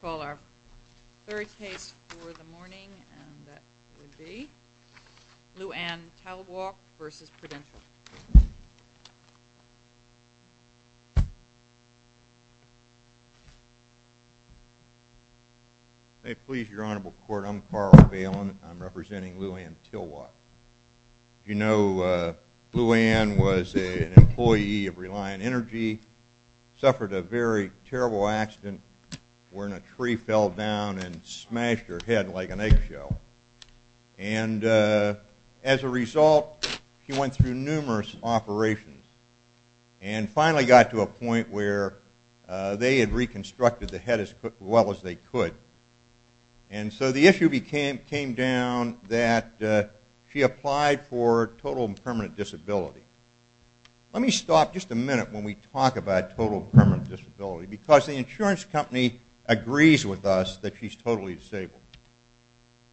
Call our third case for the morning and that would be Luann Tilwalk v. Prudentail. May it please your Honorable Court, I'm Carl Valen. I'm representing Luann Tilwalk. You know Luann was an employee of Reliant Energy, suffered a very terrible accident wherein a tree fell down and smashed her head like an eggshell. And as a result she went through numerous operations and finally got to a point where they had reconstructed the head as well as they could. And so the issue came down that she applied for total and permanent disability. Let me stop just a minute when we talk about total and permanent disability because the insurance company agrees with us that she's totally disabled.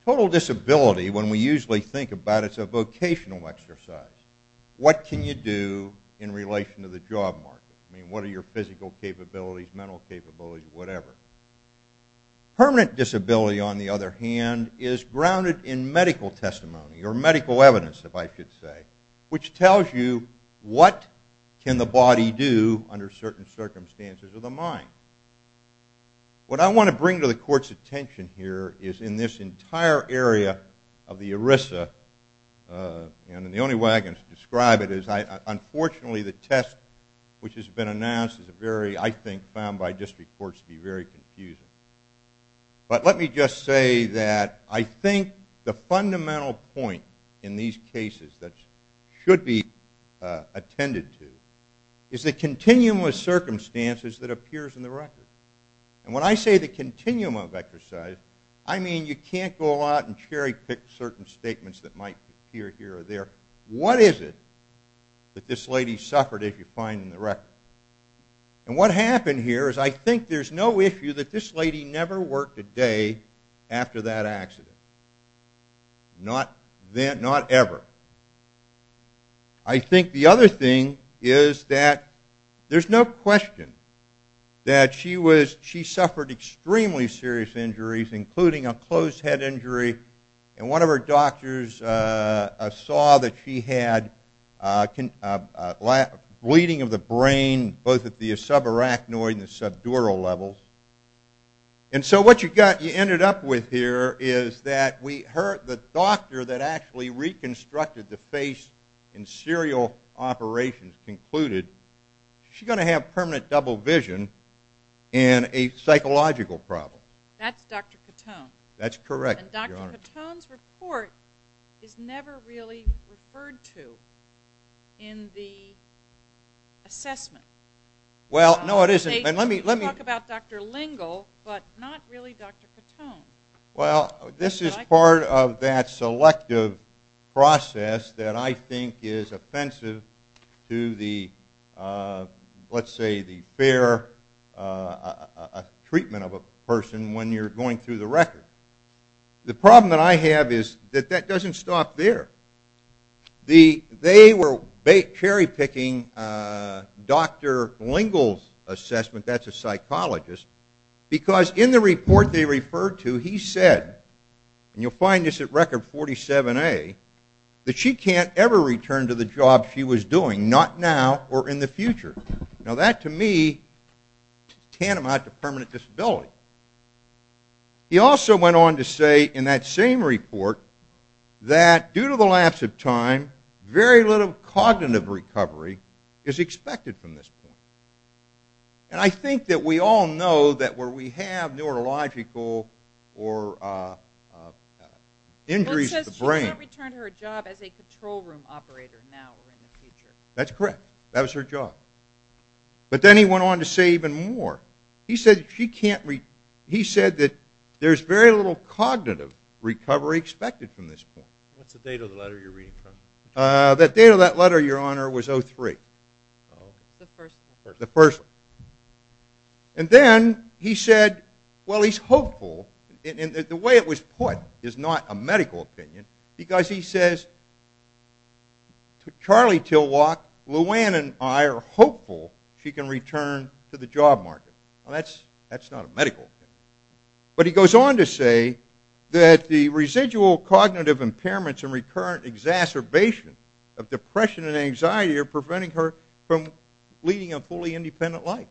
Total disability when we usually think about it is a vocational exercise. What can you do in relation to the job market? I mean what are your physical capabilities, mental capabilities, whatever. Permanent disability on the other hand is grounded in medical testimony or medical evidence if I should say, which tells you what can the body do under certain circumstances of the mind. What I want to bring to the court's attention here is in this entire area of the ERISA and the only way I can describe it is unfortunately the test which has been announced is a very, I think, found by district courts to be very confusing. But let me just say that I think the fundamental point in these cases that should be attended to is the continuum of circumstances that appears in the record. And when I say the continuum of exercise, I mean you can't go out and cherry pick certain statements that might appear here or there. What is it that this lady suffered if you find in the record? And what happened here is I think there's no issue that this lady never worked a day after that accident. Not ever. I think the other thing is that there's no question that she suffered extremely serious injuries including a closed head injury and one of her doctors saw that she had bleeding of the brain both at the subarachnoid and the subdural levels. And so what you got, you ended up with here is that the doctor that actually reconstructed the face in serial operations concluded she's going to have permanent double vision and a psychological problem. That's Dr. Cotone. That's correct. And Dr. Cotone's report is never really referred to in the assessment. Well, no it isn't. You talk about Dr. Lingle but not really Dr. Cotone. Well, this is part of that selective process that I think is offensive to the, let's say, the fair treatment of a person when you're going through the record. The problem that I have is that that doesn't stop there. They were cherry picking Dr. Lingle's assessment, that's a psychologist, because in the report they referred to he said, and you'll find this at record 47A, that she can't ever return to the job she was doing, not now or in the future. Now that, to me, tantamount to permanent disability. He also went on to say in that same report that due to the lapse of time, very little cognitive recovery is expected from this point. And I think that we all know that where we have neurological or injuries of the brain. Well, it says she'll not return to her job as a control room operator now or in the future. That's correct. That was her job. But then he went on to say even more. He said she can't, he said that there's very little cognitive recovery expected from this point. What's the date of the letter you're reading from? The date of that letter, Your Honor, was 03. The first one. The first one. And then he said, well, he's hopeful, and the way it was put is not a medical opinion, because he says, Charlie Tilwock, Luanne and I are hopeful she can return to the job market. Well, that's not a medical opinion. But he goes on to say that the residual cognitive impairments and recurrent exacerbation of depression and anxiety are preventing her from leading a fully independent life.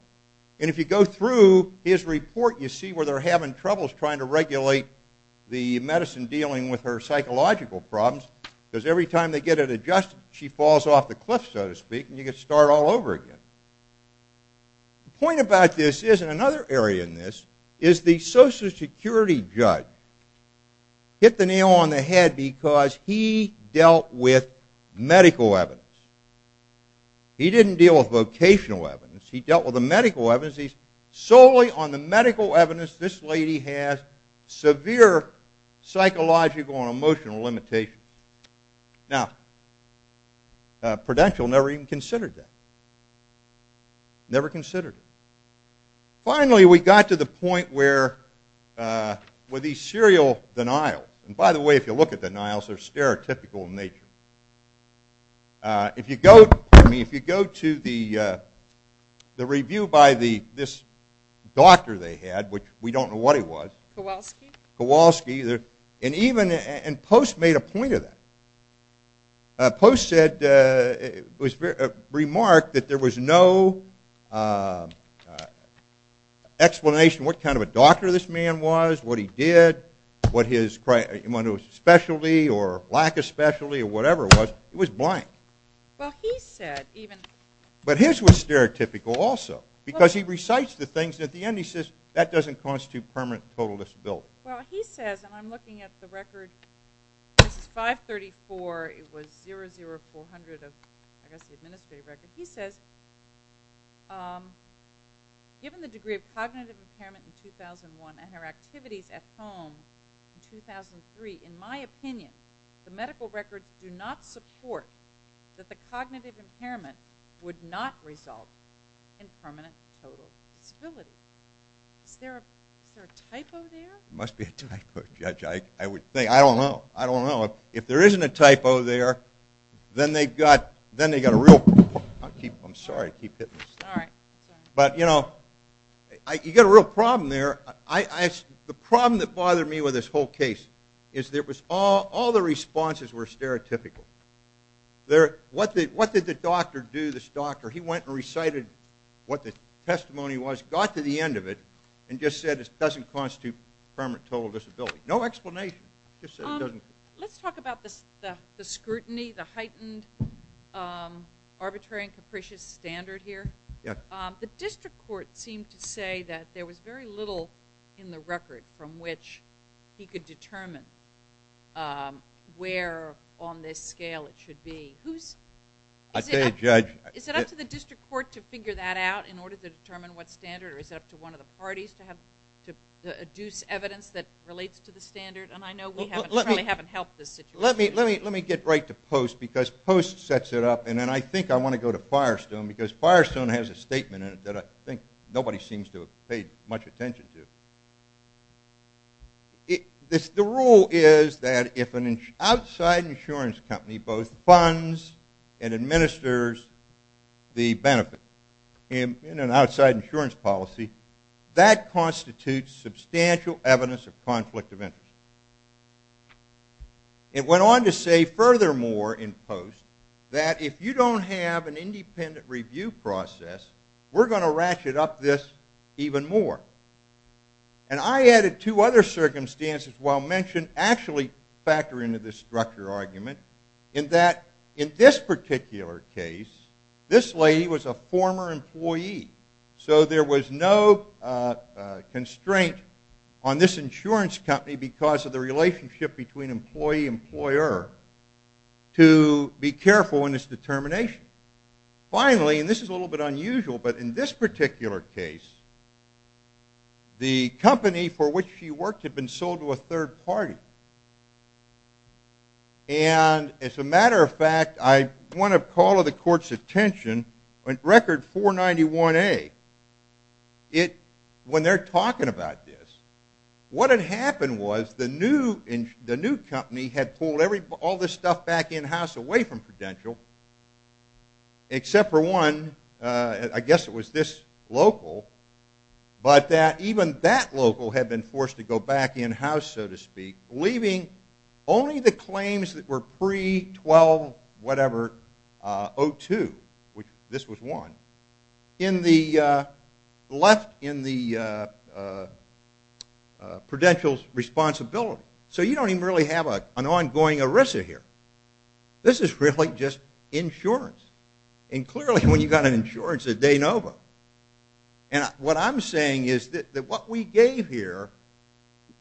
And if you go through his report, you see where they're having troubles trying to regulate the medicine dealing with her psychological problems, because every time they get it adjusted, she falls off the cliff, so to speak, and you get to start all over again. The point about this is, and another area in this, is the Social Security judge hit the nail on the head because he dealt with medical evidence. He didn't deal with vocational evidence. He dealt with the medical evidence. He says, solely on the medical evidence, this lady has severe psychological and emotional limitations. Now, Prudential never even considered that. Never considered it. Finally, we got to the point where these serial denials, and by the way, if you look at denials, they're stereotypical in nature. If you go to the review by this doctor they had, which we don't know what he was. Kowalski. Kowalski. And Post made a point of that. Post said, remarked that there was no explanation what kind of a doctor this man was, what he did, what his specialty or lack of specialty or whatever it was. It was blank. But his was stereotypical also because he recites the things, and at the end he says that doesn't constitute permanent total disability. Well, he says, and I'm looking at the record, this is 534. It was 00400 of, I guess, the administrative record. He says, given the degree of cognitive impairment in 2001 and her activities at home in 2003, in my opinion, the medical records do not support that the cognitive impairment would not result in permanent total disability. Is there a typo there? There must be a typo, Judge. I don't know. I don't know. If there isn't a typo there, then they've got a real problem. I'm sorry to keep hitting this. All right. But, you know, you've got a real problem there. The problem that bothered me with this whole case is all the responses were stereotypical. What did the doctor do, this doctor? He went and recited what the testimony was, got to the end of it, and just said it doesn't constitute permanent total disability. No explanation. Let's talk about the scrutiny, the heightened arbitrary and capricious standard here. The district court seemed to say that there was very little in the record from which he could determine where on this scale it should be. I say, Judge. Is it up to the district court to figure that out in order to determine what standard, or is it up to one of the parties to deduce evidence that relates to the standard? And I know we haven't helped this situation. Let me get right to Post because Post sets it up, and then I think I want to go to Firestone because Firestone has a statement in it that I think nobody seems to have paid much attention to. The rule is that if an outside insurance company both funds and administers the benefit in an outside insurance policy, that constitutes substantial evidence of conflict of interest. It went on to say, furthermore, in Post, that if you don't have an independent review process, we're going to ratchet up this even more. And I added two other circumstances while mentioning, actually factoring into this structure argument, in that in this particular case, this lady was a former employee. So there was no constraint on this insurance company because of the relationship between employee-employer to be careful in its determination. Finally, and this is a little bit unusual, but in this particular case, the company for which she worked had been sold to a third party. And as a matter of fact, I want to call to the court's attention, record 491A, when they're talking about this, what had happened was the new company had pulled all this stuff back in-house away from Prudential, except for one, I guess it was this local, but that even that local had been forced to go back in-house, so to speak, leaving only the claims that were pre-1202, which this was one, left in the Prudential's responsibility. So you don't even really have an ongoing ERISA here. This is really just insurance. And clearly when you've got an insurance, they know about it. And what I'm saying is that what we gave here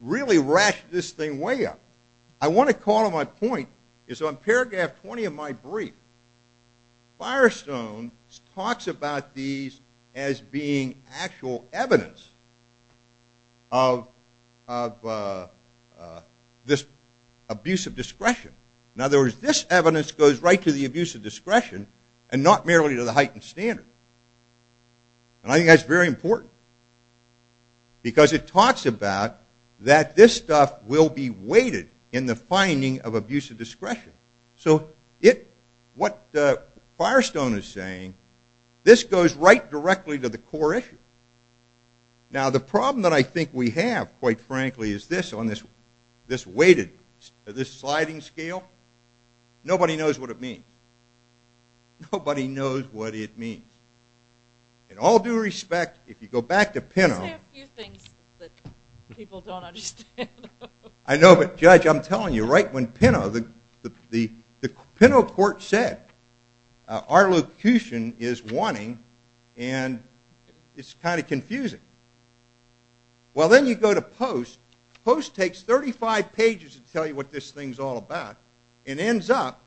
really ratcheted this thing way up. I want to call to my point is on paragraph 20 of my brief, Firestone talks about these as being actual evidence of this abuse of discretion. In other words, this evidence goes right to the abuse of discretion and not merely to the heightened standard. And I think that's very important because it talks about that this stuff will be weighted in the finding of abuse of discretion. So what Firestone is saying, this goes right directly to the core issue. Now the problem that I think we have, quite frankly, is this on this weighted, this sliding scale. Nobody knows what it means. Nobody knows what it means. In all due respect, if you go back to Pinot... Isn't there a few things that people don't understand? I know, but judge, I'm telling you, right when Pinot, the Pinot court said, our locution is wanting and it's kind of confusing. Well, then you go to Post. Post takes 35 pages to tell you what this thing's all about and ends up,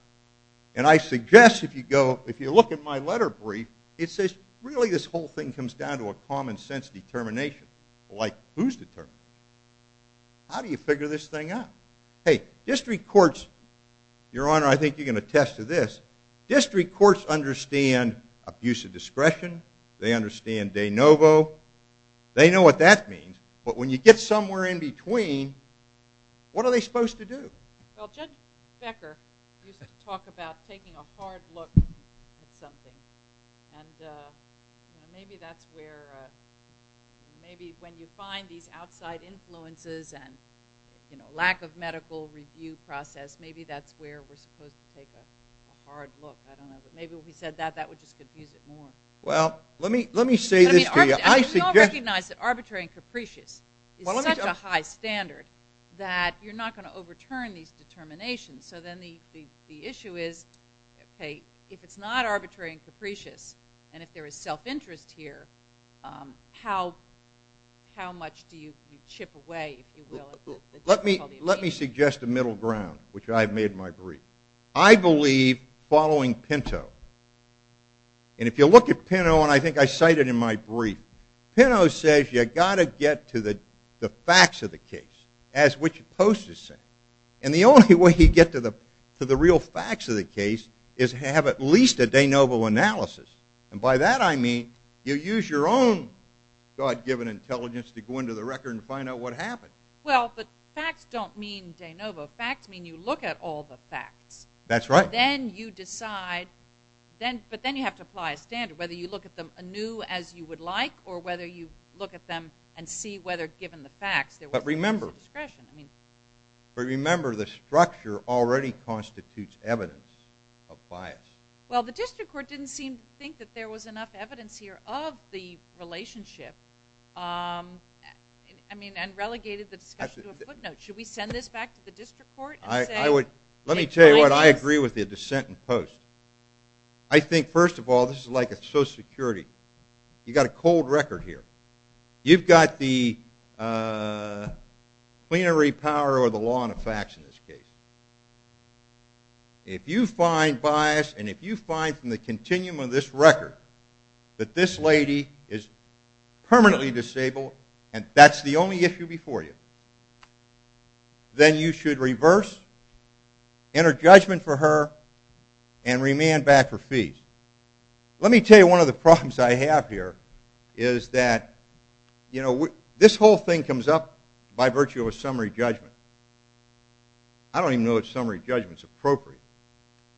and I suggest if you go, if you look at my letter brief, it says, really this whole thing comes down to a common sense determination. Like who's determined? How do you figure this thing out? Hey, district courts, Your Honor, I think you can attest to this. District courts understand abuse of discretion. They understand de novo. They know what that means. But when you get somewhere in between, what are they supposed to do? Well, Judge Becker used to talk about taking a hard look at something. And maybe that's where, maybe when you find these outside influences and lack of medical review process, maybe that's where we're supposed to take a hard look. I don't know. But maybe when he said that, that would just confuse it more. Well, let me say this to you. We all recognize that arbitrary and capricious is such a high standard that you're not going to overturn these determinations. So then the issue is, if it's not arbitrary and capricious and if there is self-interest here, how much do you chip away, if you will? Let me suggest a middle ground, which I've made in my brief. I believe, following Pinto, and if you look at Pinto, and I think I cite it in my brief, Pinto says you've got to get to the facts of the case, as which Post is saying. And the only way you get to the real facts of the case is to have at least a de novo analysis. And by that I mean, you use your own God-given intelligence to go into the record and find out what happened. Well, but facts don't mean de novo. Facts mean you look at all the facts. That's right. Then you decide, but then you have to apply a standard, whether you look at them anew as you would like or whether you look at them and see whether, given the facts, there was a sense of discretion. But remember, the structure already constitutes evidence of bias. Well, the district court didn't seem to think that there was enough evidence here of the relationship, and relegated the discussion to a footnote. Should we send this back to the district court and say... Let me tell you what, I agree with the dissent in Post. I think, first of all, this is like a social security. You've got a cold record here. You've got the plenary power or the law and the facts in this case. If you find bias and if you find from the continuum of this record that this lady is permanently disabled and that's the only issue before you, then you should reverse, enter judgment for her, and remand back her fees. Let me tell you one of the problems I have here is that, you know, this whole thing comes up by virtue of a summary judgment. I don't even know if summary judgment is appropriate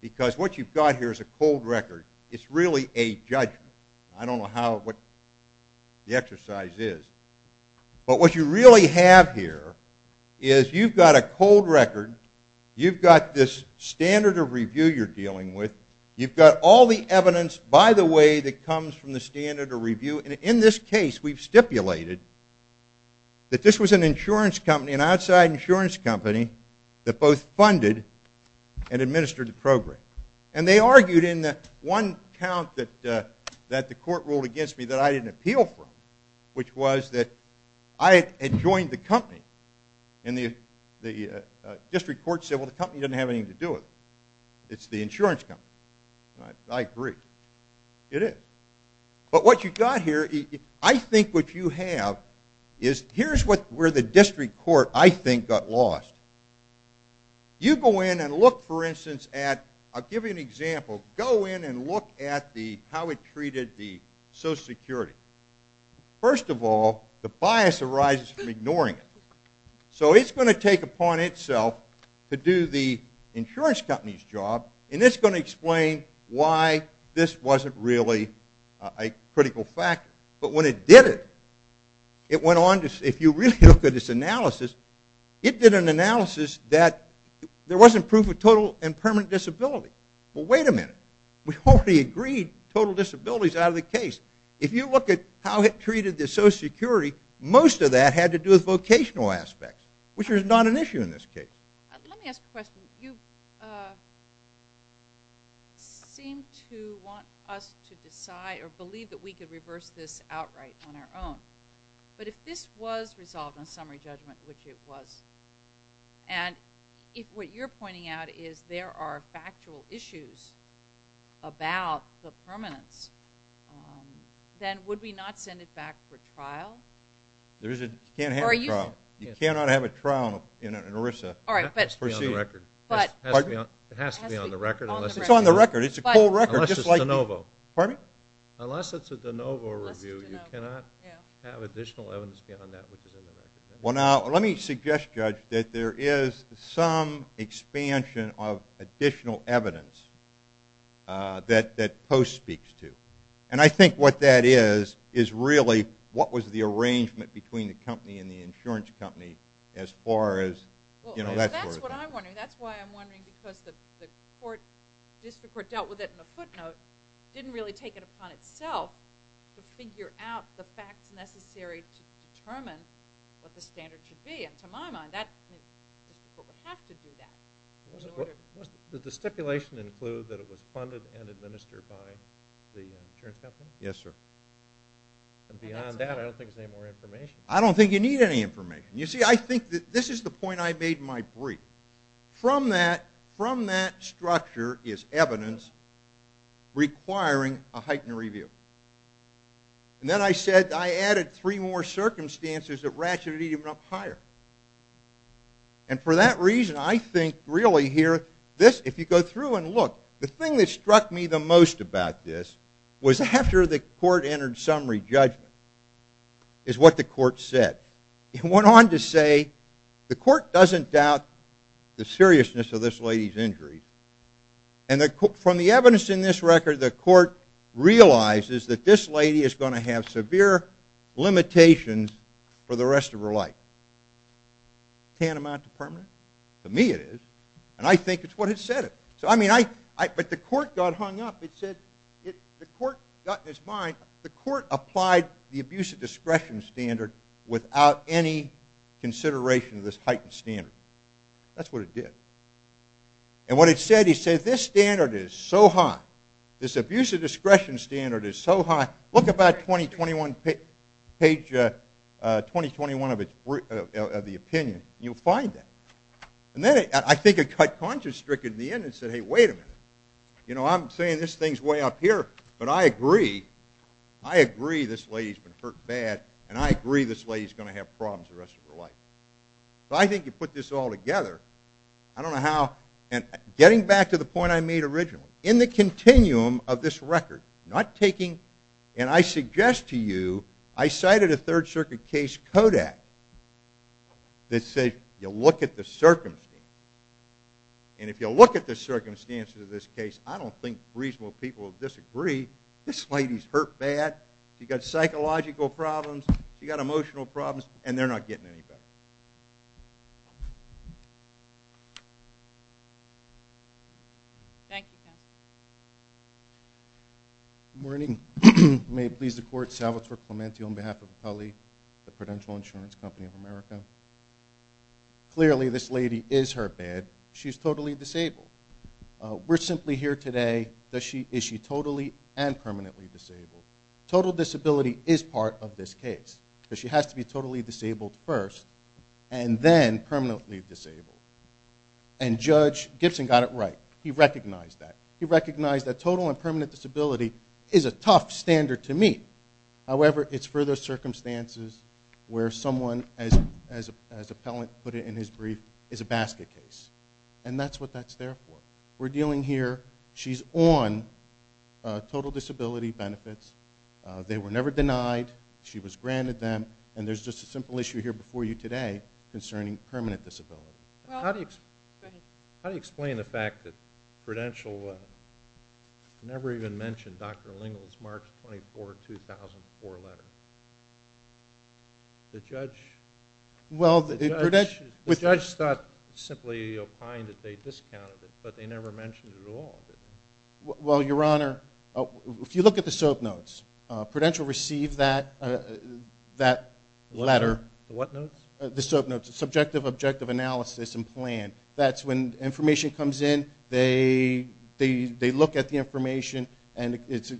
because what you've got here is a cold record. It's really a judgment. I don't know what the exercise is. But what you really have here is you've got a cold record. You've got this standard of review you're dealing with. You've got all the evidence, by the way, that comes from the standard of review. And in this case, we've stipulated that this was an insurance company, an outside insurance company that both funded and administered the program. And they argued in that one count that the court ruled against me that I didn't appeal from, which was that I had joined the company and the district court said, well, the company doesn't have anything to do with it. It's the insurance company. I agree. It is. But what you've got here, I think what you have is here's where the district court, I think, got lost. You go in and look, for instance, at... I'll give you an example. Go in and look at how it treated the Social Security. First of all, the bias arises from ignoring it. So it's going to take upon itself to do the insurance company's job, and it's going to explain why this wasn't really a critical factor. But when it did it, it went on to... if you really look at its analysis, it did an analysis that there wasn't proof of total and permanent disability. Well, wait a minute. We already agreed total disability's out of the case. If you look at how it treated the Social Security, most of that had to do with vocational aspects, which is not an issue in this case. Let me ask a question. You seem to want us to decide or believe that we could reverse this outright on our own. But if this was resolved on summary judgment, which it was, and if what you're pointing out is there are factual issues about the permanence, then would we not send it back for trial? There is a... you can't have a trial. You cannot have a trial in ERISA. All right, but... It has to be on the record. It's on the record. It's a cold record. Unless it's de novo. Unless it's a de novo review, you cannot have additional evidence beyond that, which is in the record. Well, now, let me suggest, Judge, that there is some expansion of additional evidence that Post speaks to. And I think what that is is really what was the arrangement between the company and the insurance company as far as, you know, that sort of thing. Well, that's what I'm wondering. That's why I'm wondering, because the court, district court, dealt with it in a footnote, didn't really take it upon itself to figure out the facts necessary to determine what the standard should be. And to my mind, the district court would have to do that. Does the stipulation include that it was funded and administered by the insurance company? Yes, sir. And beyond that, I don't think there's any more information. I don't think you need any information. You see, I think that this is the point I made in my brief. From that structure is evidence requiring a heightened review. And then I said, I added three more circumstances that ratcheted even up higher. And for that reason, I think, really, here, if you go through and look, the thing that struck me the most about this was after the court entered summary judgment is what the court said. It went on to say, the court doesn't doubt the seriousness of this lady's injury. And from the evidence in this record, the court realizes that this lady is going to have severe limitations for the rest of her life. Can't amount to permanent? To me, it is. And I think it's what it said. But the court got hung up. It said, the court got in its mind, the court applied the abuse of discretion standard without any consideration of this heightened standard. That's what it did. And what it said, it said, this standard is so high, this abuse of discretion standard is so high, look about 2021, page 2021 of the opinion. You'll find that. And then I think it cut conscience stricken in the end and said, hey, wait a minute. You know, I'm saying this thing's way up here, but I agree, I agree this lady's been hurt bad, and I agree this lady's going to have problems the rest of her life. So I think you put this all together, I don't know how, and getting back to the point I made originally, in the continuum of this record, not taking, and I suggest to you, I cited a Third Circuit case, Kodak, that said, you look at the circumstances, and if you look at the circumstances of this case, I don't think reasonable people will disagree, this lady's hurt bad, she's got psychological problems, she's got emotional problems, and they're not getting any better. Thank you, counsel. Good morning. May it please the court, Salvatore Clemente on behalf of Acali, the Prudential Insurance Company of America. Clearly this lady is hurt bad, she's totally disabled. We're simply here today, is she totally and permanently disabled? Total disability is part of this case. She has to be totally disabled first, and then permanently disabled. And Judge Gibson got it right. He recognized that. He recognized that total and permanent disability is a tough standard to meet. However, it's further circumstances where someone, as Appellant put it in his brief, is a basket case. And that's what that's there for. We're dealing here, she's on total disability benefits. They were never denied. She was granted them. And there's just a simple issue here before you today concerning permanent disability. How do you explain the fact that Prudential never even mentioned Dr. Lingle's March 24, 2004 letter? The judge... Well, Prudential... The judge thought simply opined that they discounted it, but they never mentioned it at all. Well, Your Honor, if you look at the soap notes, Prudential received that letter. The what notes? The soap notes. Subjective, objective analysis and plan. That's when information comes in, they look at the information, and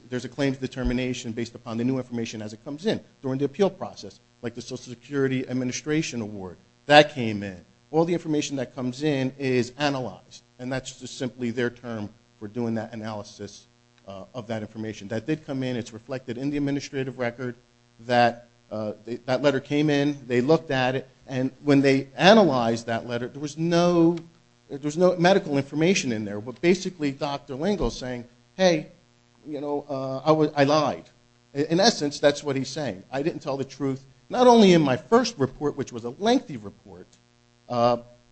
there's a claim to determination based upon the new information as it comes in. During the appeal process, like the Social Security Administration Award, that came in. All the information that comes in is analyzed. And that's just simply their term for doing that analysis of that information. That did come in, it's reflected in the administrative record that that letter came in, they looked at it, and when they analyzed that letter, there was no medical information in there, but basically Dr. Lingle saying, hey, you know, I lied. In essence, that's what he's saying. I didn't tell the truth, not only in my first report, which was a lengthy report,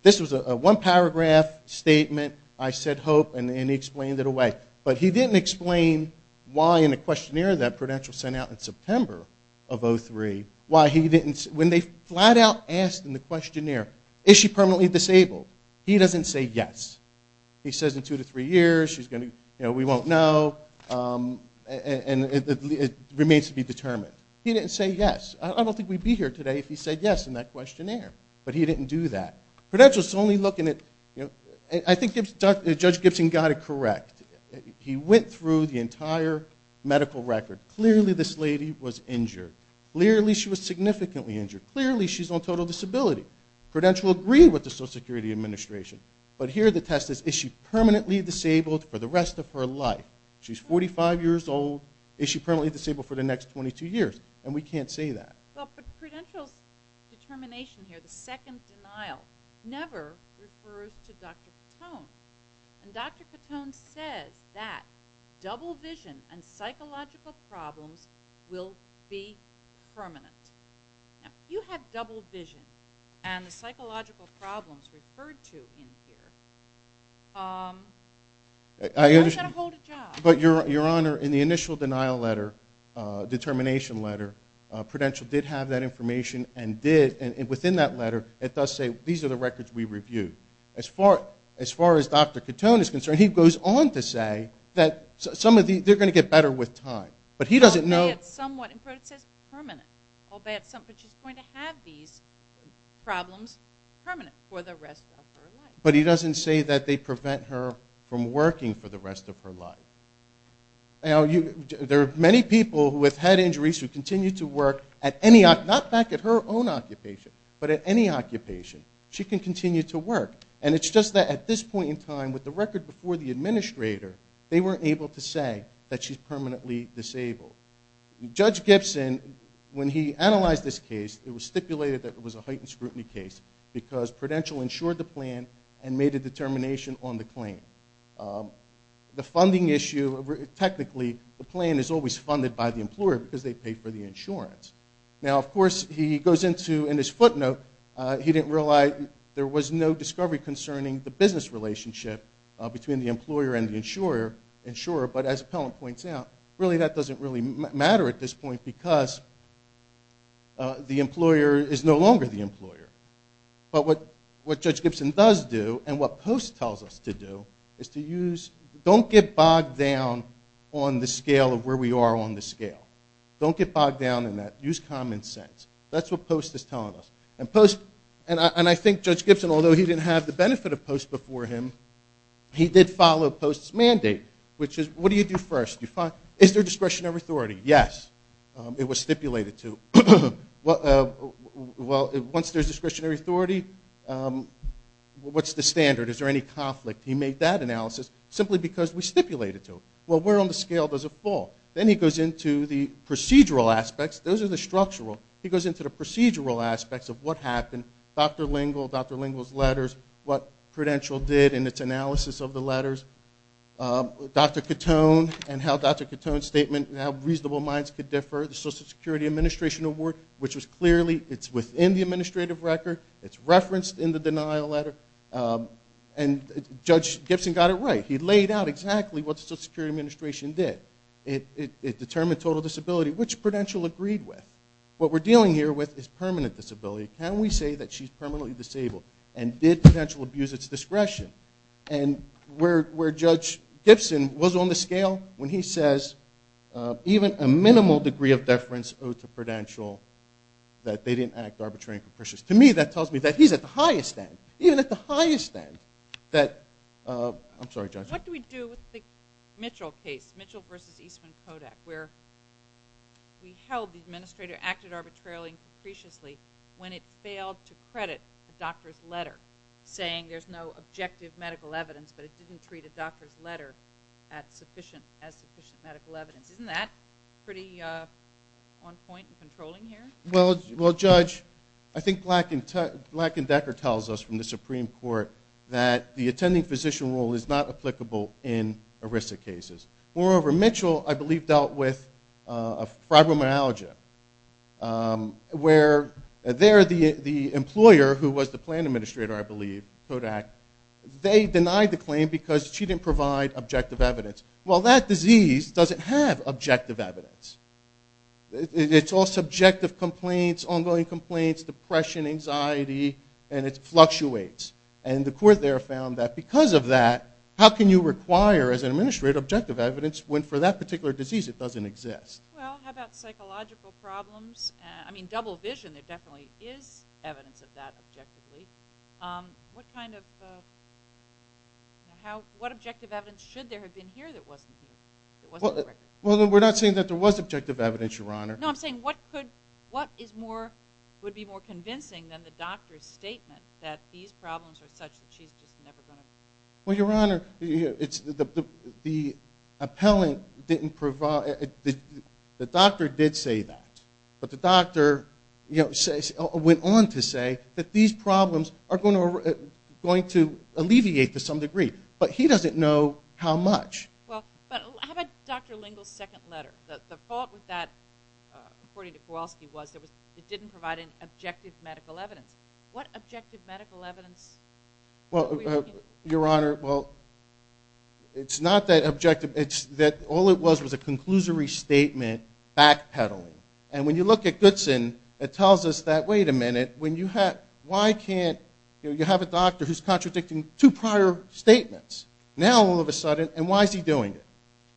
this was a one paragraph statement, I said hope, and he explained it away. But he didn't explain why in the questionnaire that Prudential sent out in September of 2003, when they flat out asked in the questionnaire, is she permanently disabled, he doesn't say yes. He says in two to three years, we won't know, and it remains to be determined. He didn't say yes. I don't think we'd be here today if he said yes in that questionnaire. But he didn't do that. Prudential's only looking at, I think Judge Gibson got it correct. He went through the entire medical record. Clearly this lady was injured. Clearly she was significantly injured. Clearly she's on total disability. Prudential agreed with the Social Security Administration. But here the test is, is she permanently disabled for the rest of her life? She's 45 years old, is she permanently disabled for the next 22 years? And we can't say that. But Prudential's determination here, the second denial, never refers to Dr. Cotone. And Dr. Cotone says that double vision and psychological problems will be permanent. If you have double vision, and the psychological problems referred to in here, you've got to hold a job. But Your Honor, in the initial denial letter, determination letter, Prudential did have that information and did, within that letter, it does say, these are the records we reviewed. As far as Dr. Cotone is concerned, he goes on to say that some of these, they're going to get better with time. But he doesn't know It says permanent. She's going to have these problems permanent for the rest of her life. But he doesn't say that they prevent her from working for the rest of her life. Now, there are many people who have had injuries who continue to work at any, not back at her own occupation, but at any occupation. She can continue to work. And it's just that at this point in time, with the record before the administrator, they weren't able to say that she's permanently disabled. Judge Gibson, when he analyzed this case, it was stipulated that it was a heightened scrutiny case because Prudential ensured the plan and made a determination on the claim. The funding issue, technically, the plan is always funded by the employer because they pay for the insurance. Now, of course, he goes into, in his footnote, he didn't realize there was no discovery concerning the business relationship between the employer and the insurer. But as Appellant points out, really that doesn't really matter at this point because the employer is no longer the employer. But what Judge Gibson does do, and what Post tells us to do, is to use, don't get bogged down on the scale of where we are on the scale. Don't get bogged down in that. Use common sense. That's what Post is telling us. And Post, and I think Judge Gibson, although he didn't have the benefit of Post before him, he did follow Post's mandate, which is what do you do first? Is there discretion over authority? Yes. It was stipulated to. Well, once there's discretionary authority, what's the standard? Is there any conflict? He made that analysis simply because we stipulated to it. Well, where on the scale does it fall? Then he goes into the procedural aspects. Those are the structural. He goes into the procedural aspects of what happened. Dr. Lingle, Dr. Lingle's letters, what Prudential did in its analysis of the letters. Dr. Catone and how Dr. Catone's statement, how reasonable minds could differ, the Social Security Administration Award, which was clearly, it's within the administrative record. It's referenced in the denial letter. And Judge Gibson got it right. He laid out exactly what the Social Security Administration did. It determined total disability, which Prudential agreed with. What we're dealing here with is permanent disability. Can we say that she's permanently disabled? And did Prudential abuse its discretion? And where Judge Gibson was on the scale, when he says even a minimal degree of deference owed to Prudential that they didn't act arbitrarily and capriciously. To me, that tells me that he's at the highest end, even at the highest end that... I'm sorry, Judge. What do we do with the Mitchell case? Mitchell v. Eastman Kodak, where we held the administrator acted arbitrarily and capriciously when it failed to credit a doctor's letter, saying there's no objective medical evidence, but it didn't treat a doctor's letter as sufficient medical evidence. Isn't that pretty on point and controlling here? Well, Judge, I think Black and Decker tells us from the Supreme Court that the attending physician role is not applicable in ERISA cases. Moreover, Mitchell, I believe, dealt with fibromyalgia, where there, the employer who was the plan administrator, I believe, Kodak, they denied the objective evidence. Well, that disease doesn't have objective evidence. It's all subjective complaints, ongoing complaints, depression, anxiety, and it fluctuates. And the court there found that because of that, how can you require, as an administrator, objective evidence when, for that particular disease, it doesn't exist? Well, how about psychological problems? I mean, double vision, there definitely is evidence of that objectively. What kind of... What objective evidence should there have been here that wasn't here? Well, we're not saying that there was objective evidence, Your Honor. No, I'm saying what would be more convincing than the doctor's statement that these problems are such that she's just never going to... Well, Your Honor, the appellant didn't provide... the doctor did say that, but the doctor went on to say that these problems are going to alleviate to some degree, but he doesn't know how much. Well, how about Dr. Lingle's second letter? The fault with that, according to Kowalski, was that it didn't provide an objective medical evidence. What objective medical evidence were you looking at? Well, Your Honor, well, it's not that objective. It's that all it was was a conclusory statement backpedaling. And when you look at Goodson, it tells us that, wait a minute, when you have... Why can't you have a doctor who's contradicting two prior statements? Now, all of a sudden, and why is he doing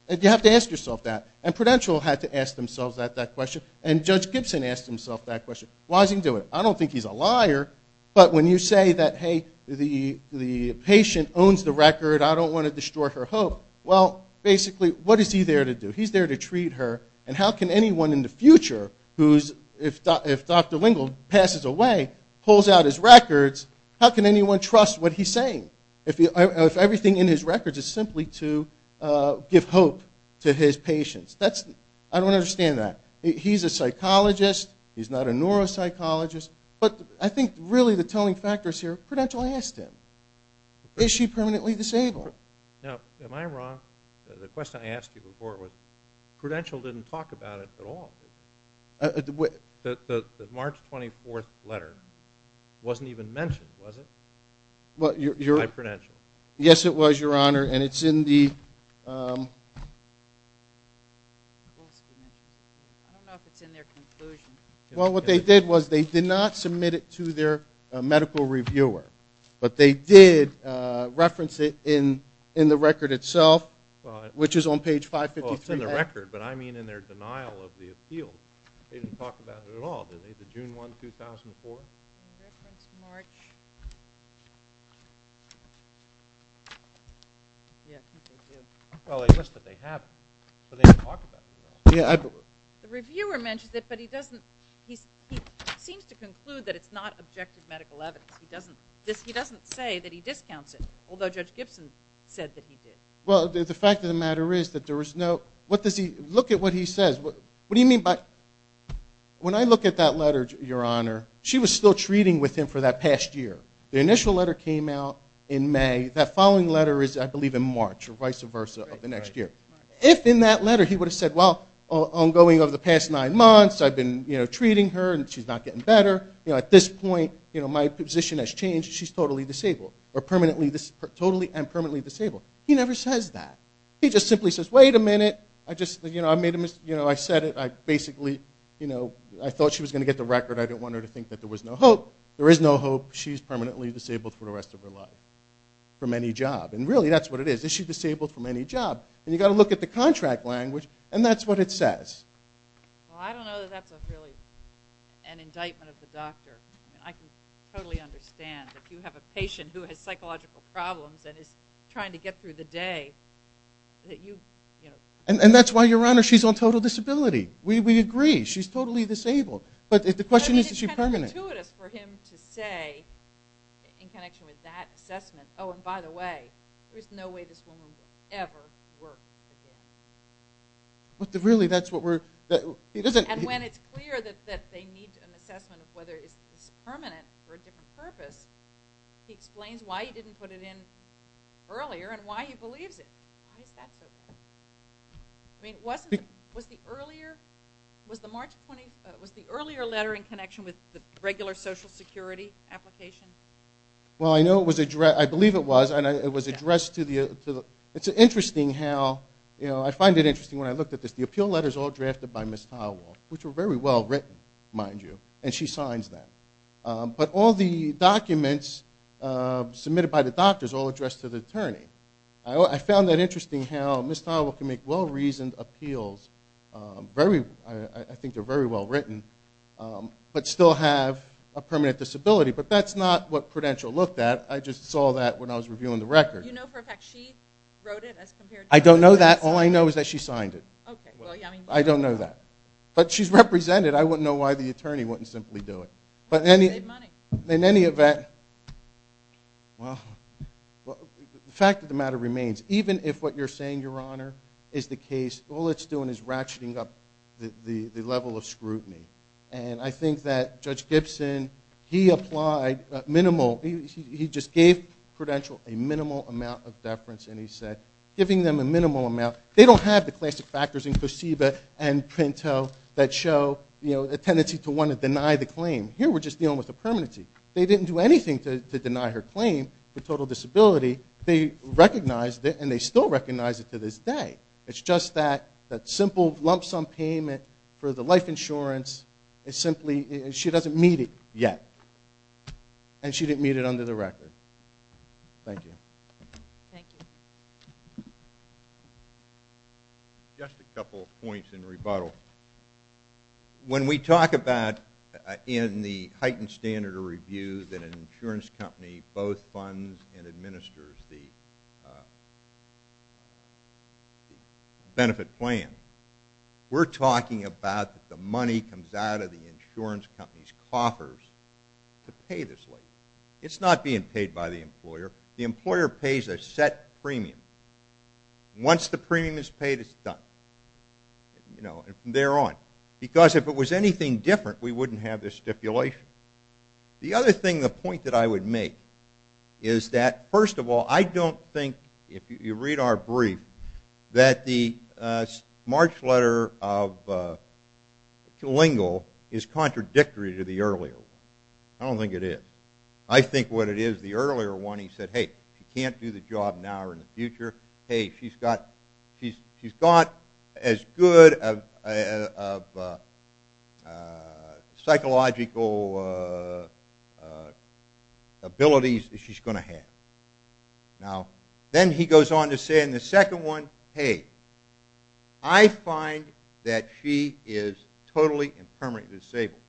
it? You have to ask yourself that. And Prudential had to ask themselves that question. And Judge Gibson asked himself that question. Why is he doing it? I don't think he's a liar, but when you say that, hey, the patient owns the record, I don't want to destroy her hope, well, basically, what is he there to do? He's there to treat her, and how can anyone in the future who's... if Dr. Lingle passes away, pulls out his records, how can anyone trust what he's saying if everything in his records is simply to give hope to his patients? I don't understand that. He's a psychologist. He's not a neuropsychologist. But I think really the telling factors here, Prudential asked him, is she permanently disabled? Now, am I wrong? The question I asked you before was Prudential didn't talk about it at all. The March 24th letter wasn't even mentioned, was it? By Prudential. Yes, it was, Your Honor, and it's in the... I don't know if it's in their conclusion. Well, what they did was they did not submit it to their medical reviewer, but they did reference it in the record itself, which is on page 553A. In the record, but I mean in their denial of the appeal, they didn't talk about it at all. Did they? The June 1, 2004? They referenced March... Yes, I think they did. Well, I guess that they haven't, but they didn't talk about it at all. The reviewer mentions it, but he doesn't... he seems to conclude that it's not objective medical evidence. He doesn't say that he discounts it, although Judge Gibson said that he did. Well, the fact of the matter is that there is no... Look at what he says. When I look at that letter, Your Honor, she was still treating with him for that past year. The initial letter came out in May. That following letter is, I believe, in March, or vice versa of the next year. If in that letter he would have said, well, ongoing over the past nine months, I've been treating her and she's not getting better. At this point, my position has changed. She's totally disabled. Totally and permanently disabled. He never says that. He just simply says, wait a minute. I said it. I basically thought she was going to get the record. I didn't want her to think that there was no hope. There is no hope. She's permanently disabled for the rest of her life from any job. Really, that's what it is. Is she disabled from any job? You've got to look at the contract language, and that's what it says. Well, I don't know that that's really an indictment of the doctor. I can totally understand that you have a patient who has psychological problems and is trying to get through the day. And that's why, Your Honor, she's on total disability. We agree. She's totally disabled. But the question is, is she permanent? It's kind of intuitive for him to say in connection with that assessment, oh, and by the way, there's no way this woman will ever work again. Really, that's what we're... And when it's clear that they need an assessment of whether it's permanent for a different purpose, he explains why he didn't put it in earlier and why he believes it. Why is that so? I mean, was the earlier... Was the earlier letter in connection with the regular Social Security application? Well, I believe it was, and it was addressed to the... It's interesting how... I find it interesting when I looked at this. The appeal letters all drafted by Ms. Howell, which were very well written, mind you, and she signs them. But all the documents submitted by the doctors all addressed to the attorney. I found that interesting how Ms. Howell can make well-reasoned appeals very... I think they're very well written, but still have a permanent disability. But that's not what Prudential looked at. I just saw that when I was reviewing the record. You know for a fact she wrote it as compared to... I don't know that. All I know is that she signed it. Okay, well, I mean... I don't know that. But she's represented. I wouldn't know why the attorney wouldn't simply do it. But in any event... Well... The fact of the matter remains, even if what you're saying, Your Honor, is the case, all it's doing is ratcheting up the level of scrutiny. And I think that Judge Gibson, he applied minimal... He just gave Prudential a minimal amount of deference, and he said, giving them a minimal amount... They don't have the classic factors in Koseba and Pinto that show a tendency to want to deny the claim. Here we're just dealing with a permanency. They didn't do anything to deny her claim for total disability. They recognized it and they still recognize it to this day. It's just that simple lump sum payment for the life insurance is simply... She doesn't meet it yet. And she didn't meet it under the record. Thank you. Thank you. Just a couple of points in rebuttal. When we talk about in the heightened standard of review that an insurance company both funds and administers the benefit plan, we're talking about that the money comes out of the insurance company's coffers to pay this lady. It's not being paid by the employer. The employer pays a set premium. Once the premium is paid, it's done. You know, from there on. Because if it was anything different, we wouldn't have this stipulation. The other thing, the point that I would make is that, first of all, I don't think, if you read our brief, that the March letter of Klingel is contradictory to the earlier one. I don't think it is. I think what it is, the earlier one, he said, hey, she can't do the job now or in the future. Hey, she's got she's got as good of psychological abilities as she's going to have. Now, then he goes on to say in the second one, hey, I find that she is totally and permanently disabled.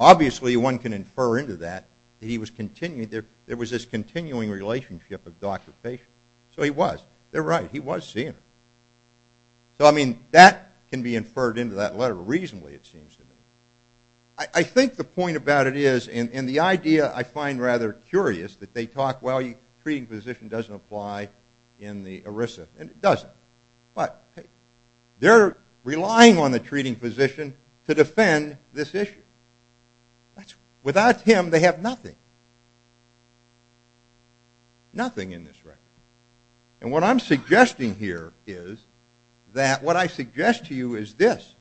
Obviously, one can infer into that that he was continuing, there was this continuing relationship of doctor patient. So he was. They're right. He was seeing her. So, I mean, that can be inferred into that letter reasonably, it seems to me. I think the point about it is, and the idea I find rather curious, that they talk, well, treating physician doesn't apply in the ERISA. And it doesn't. But, hey, they're relying on the treating physician to defend this issue. Without him, they have nothing. Nothing in this record. And what I'm suggesting here is that what I suggest to you is this.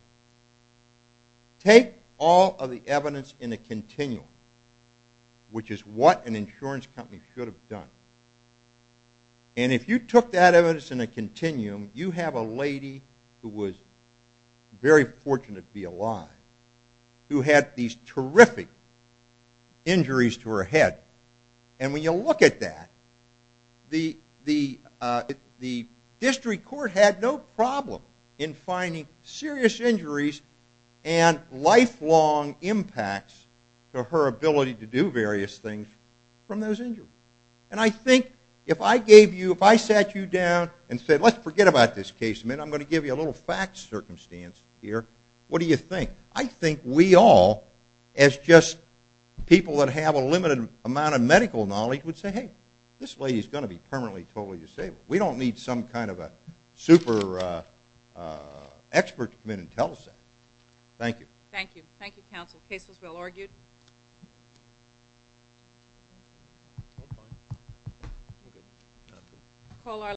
Take all of the evidence in a continuum, which is what an insurance company should have done. And if you took that evidence in a continuum, you have a lady who was very fortunate to be alive, who had these terrific injuries to her head. And when you look at that, the district court had no problem in finding serious injuries and lifelong impacts to her ability to do various things from those injuries. And I think if I gave you, if I sat you down and said, let's forget about this case a minute, I'm going to give you a little fact circumstance here. What do you think? I think we all, as just people that have a limited amount of medical knowledge, would say, hey, this lady's going to be permanently totally disabled. We don't need some kind of a super expert to come in and tell us that. Thank you. Thank you, counsel. Case was well argued.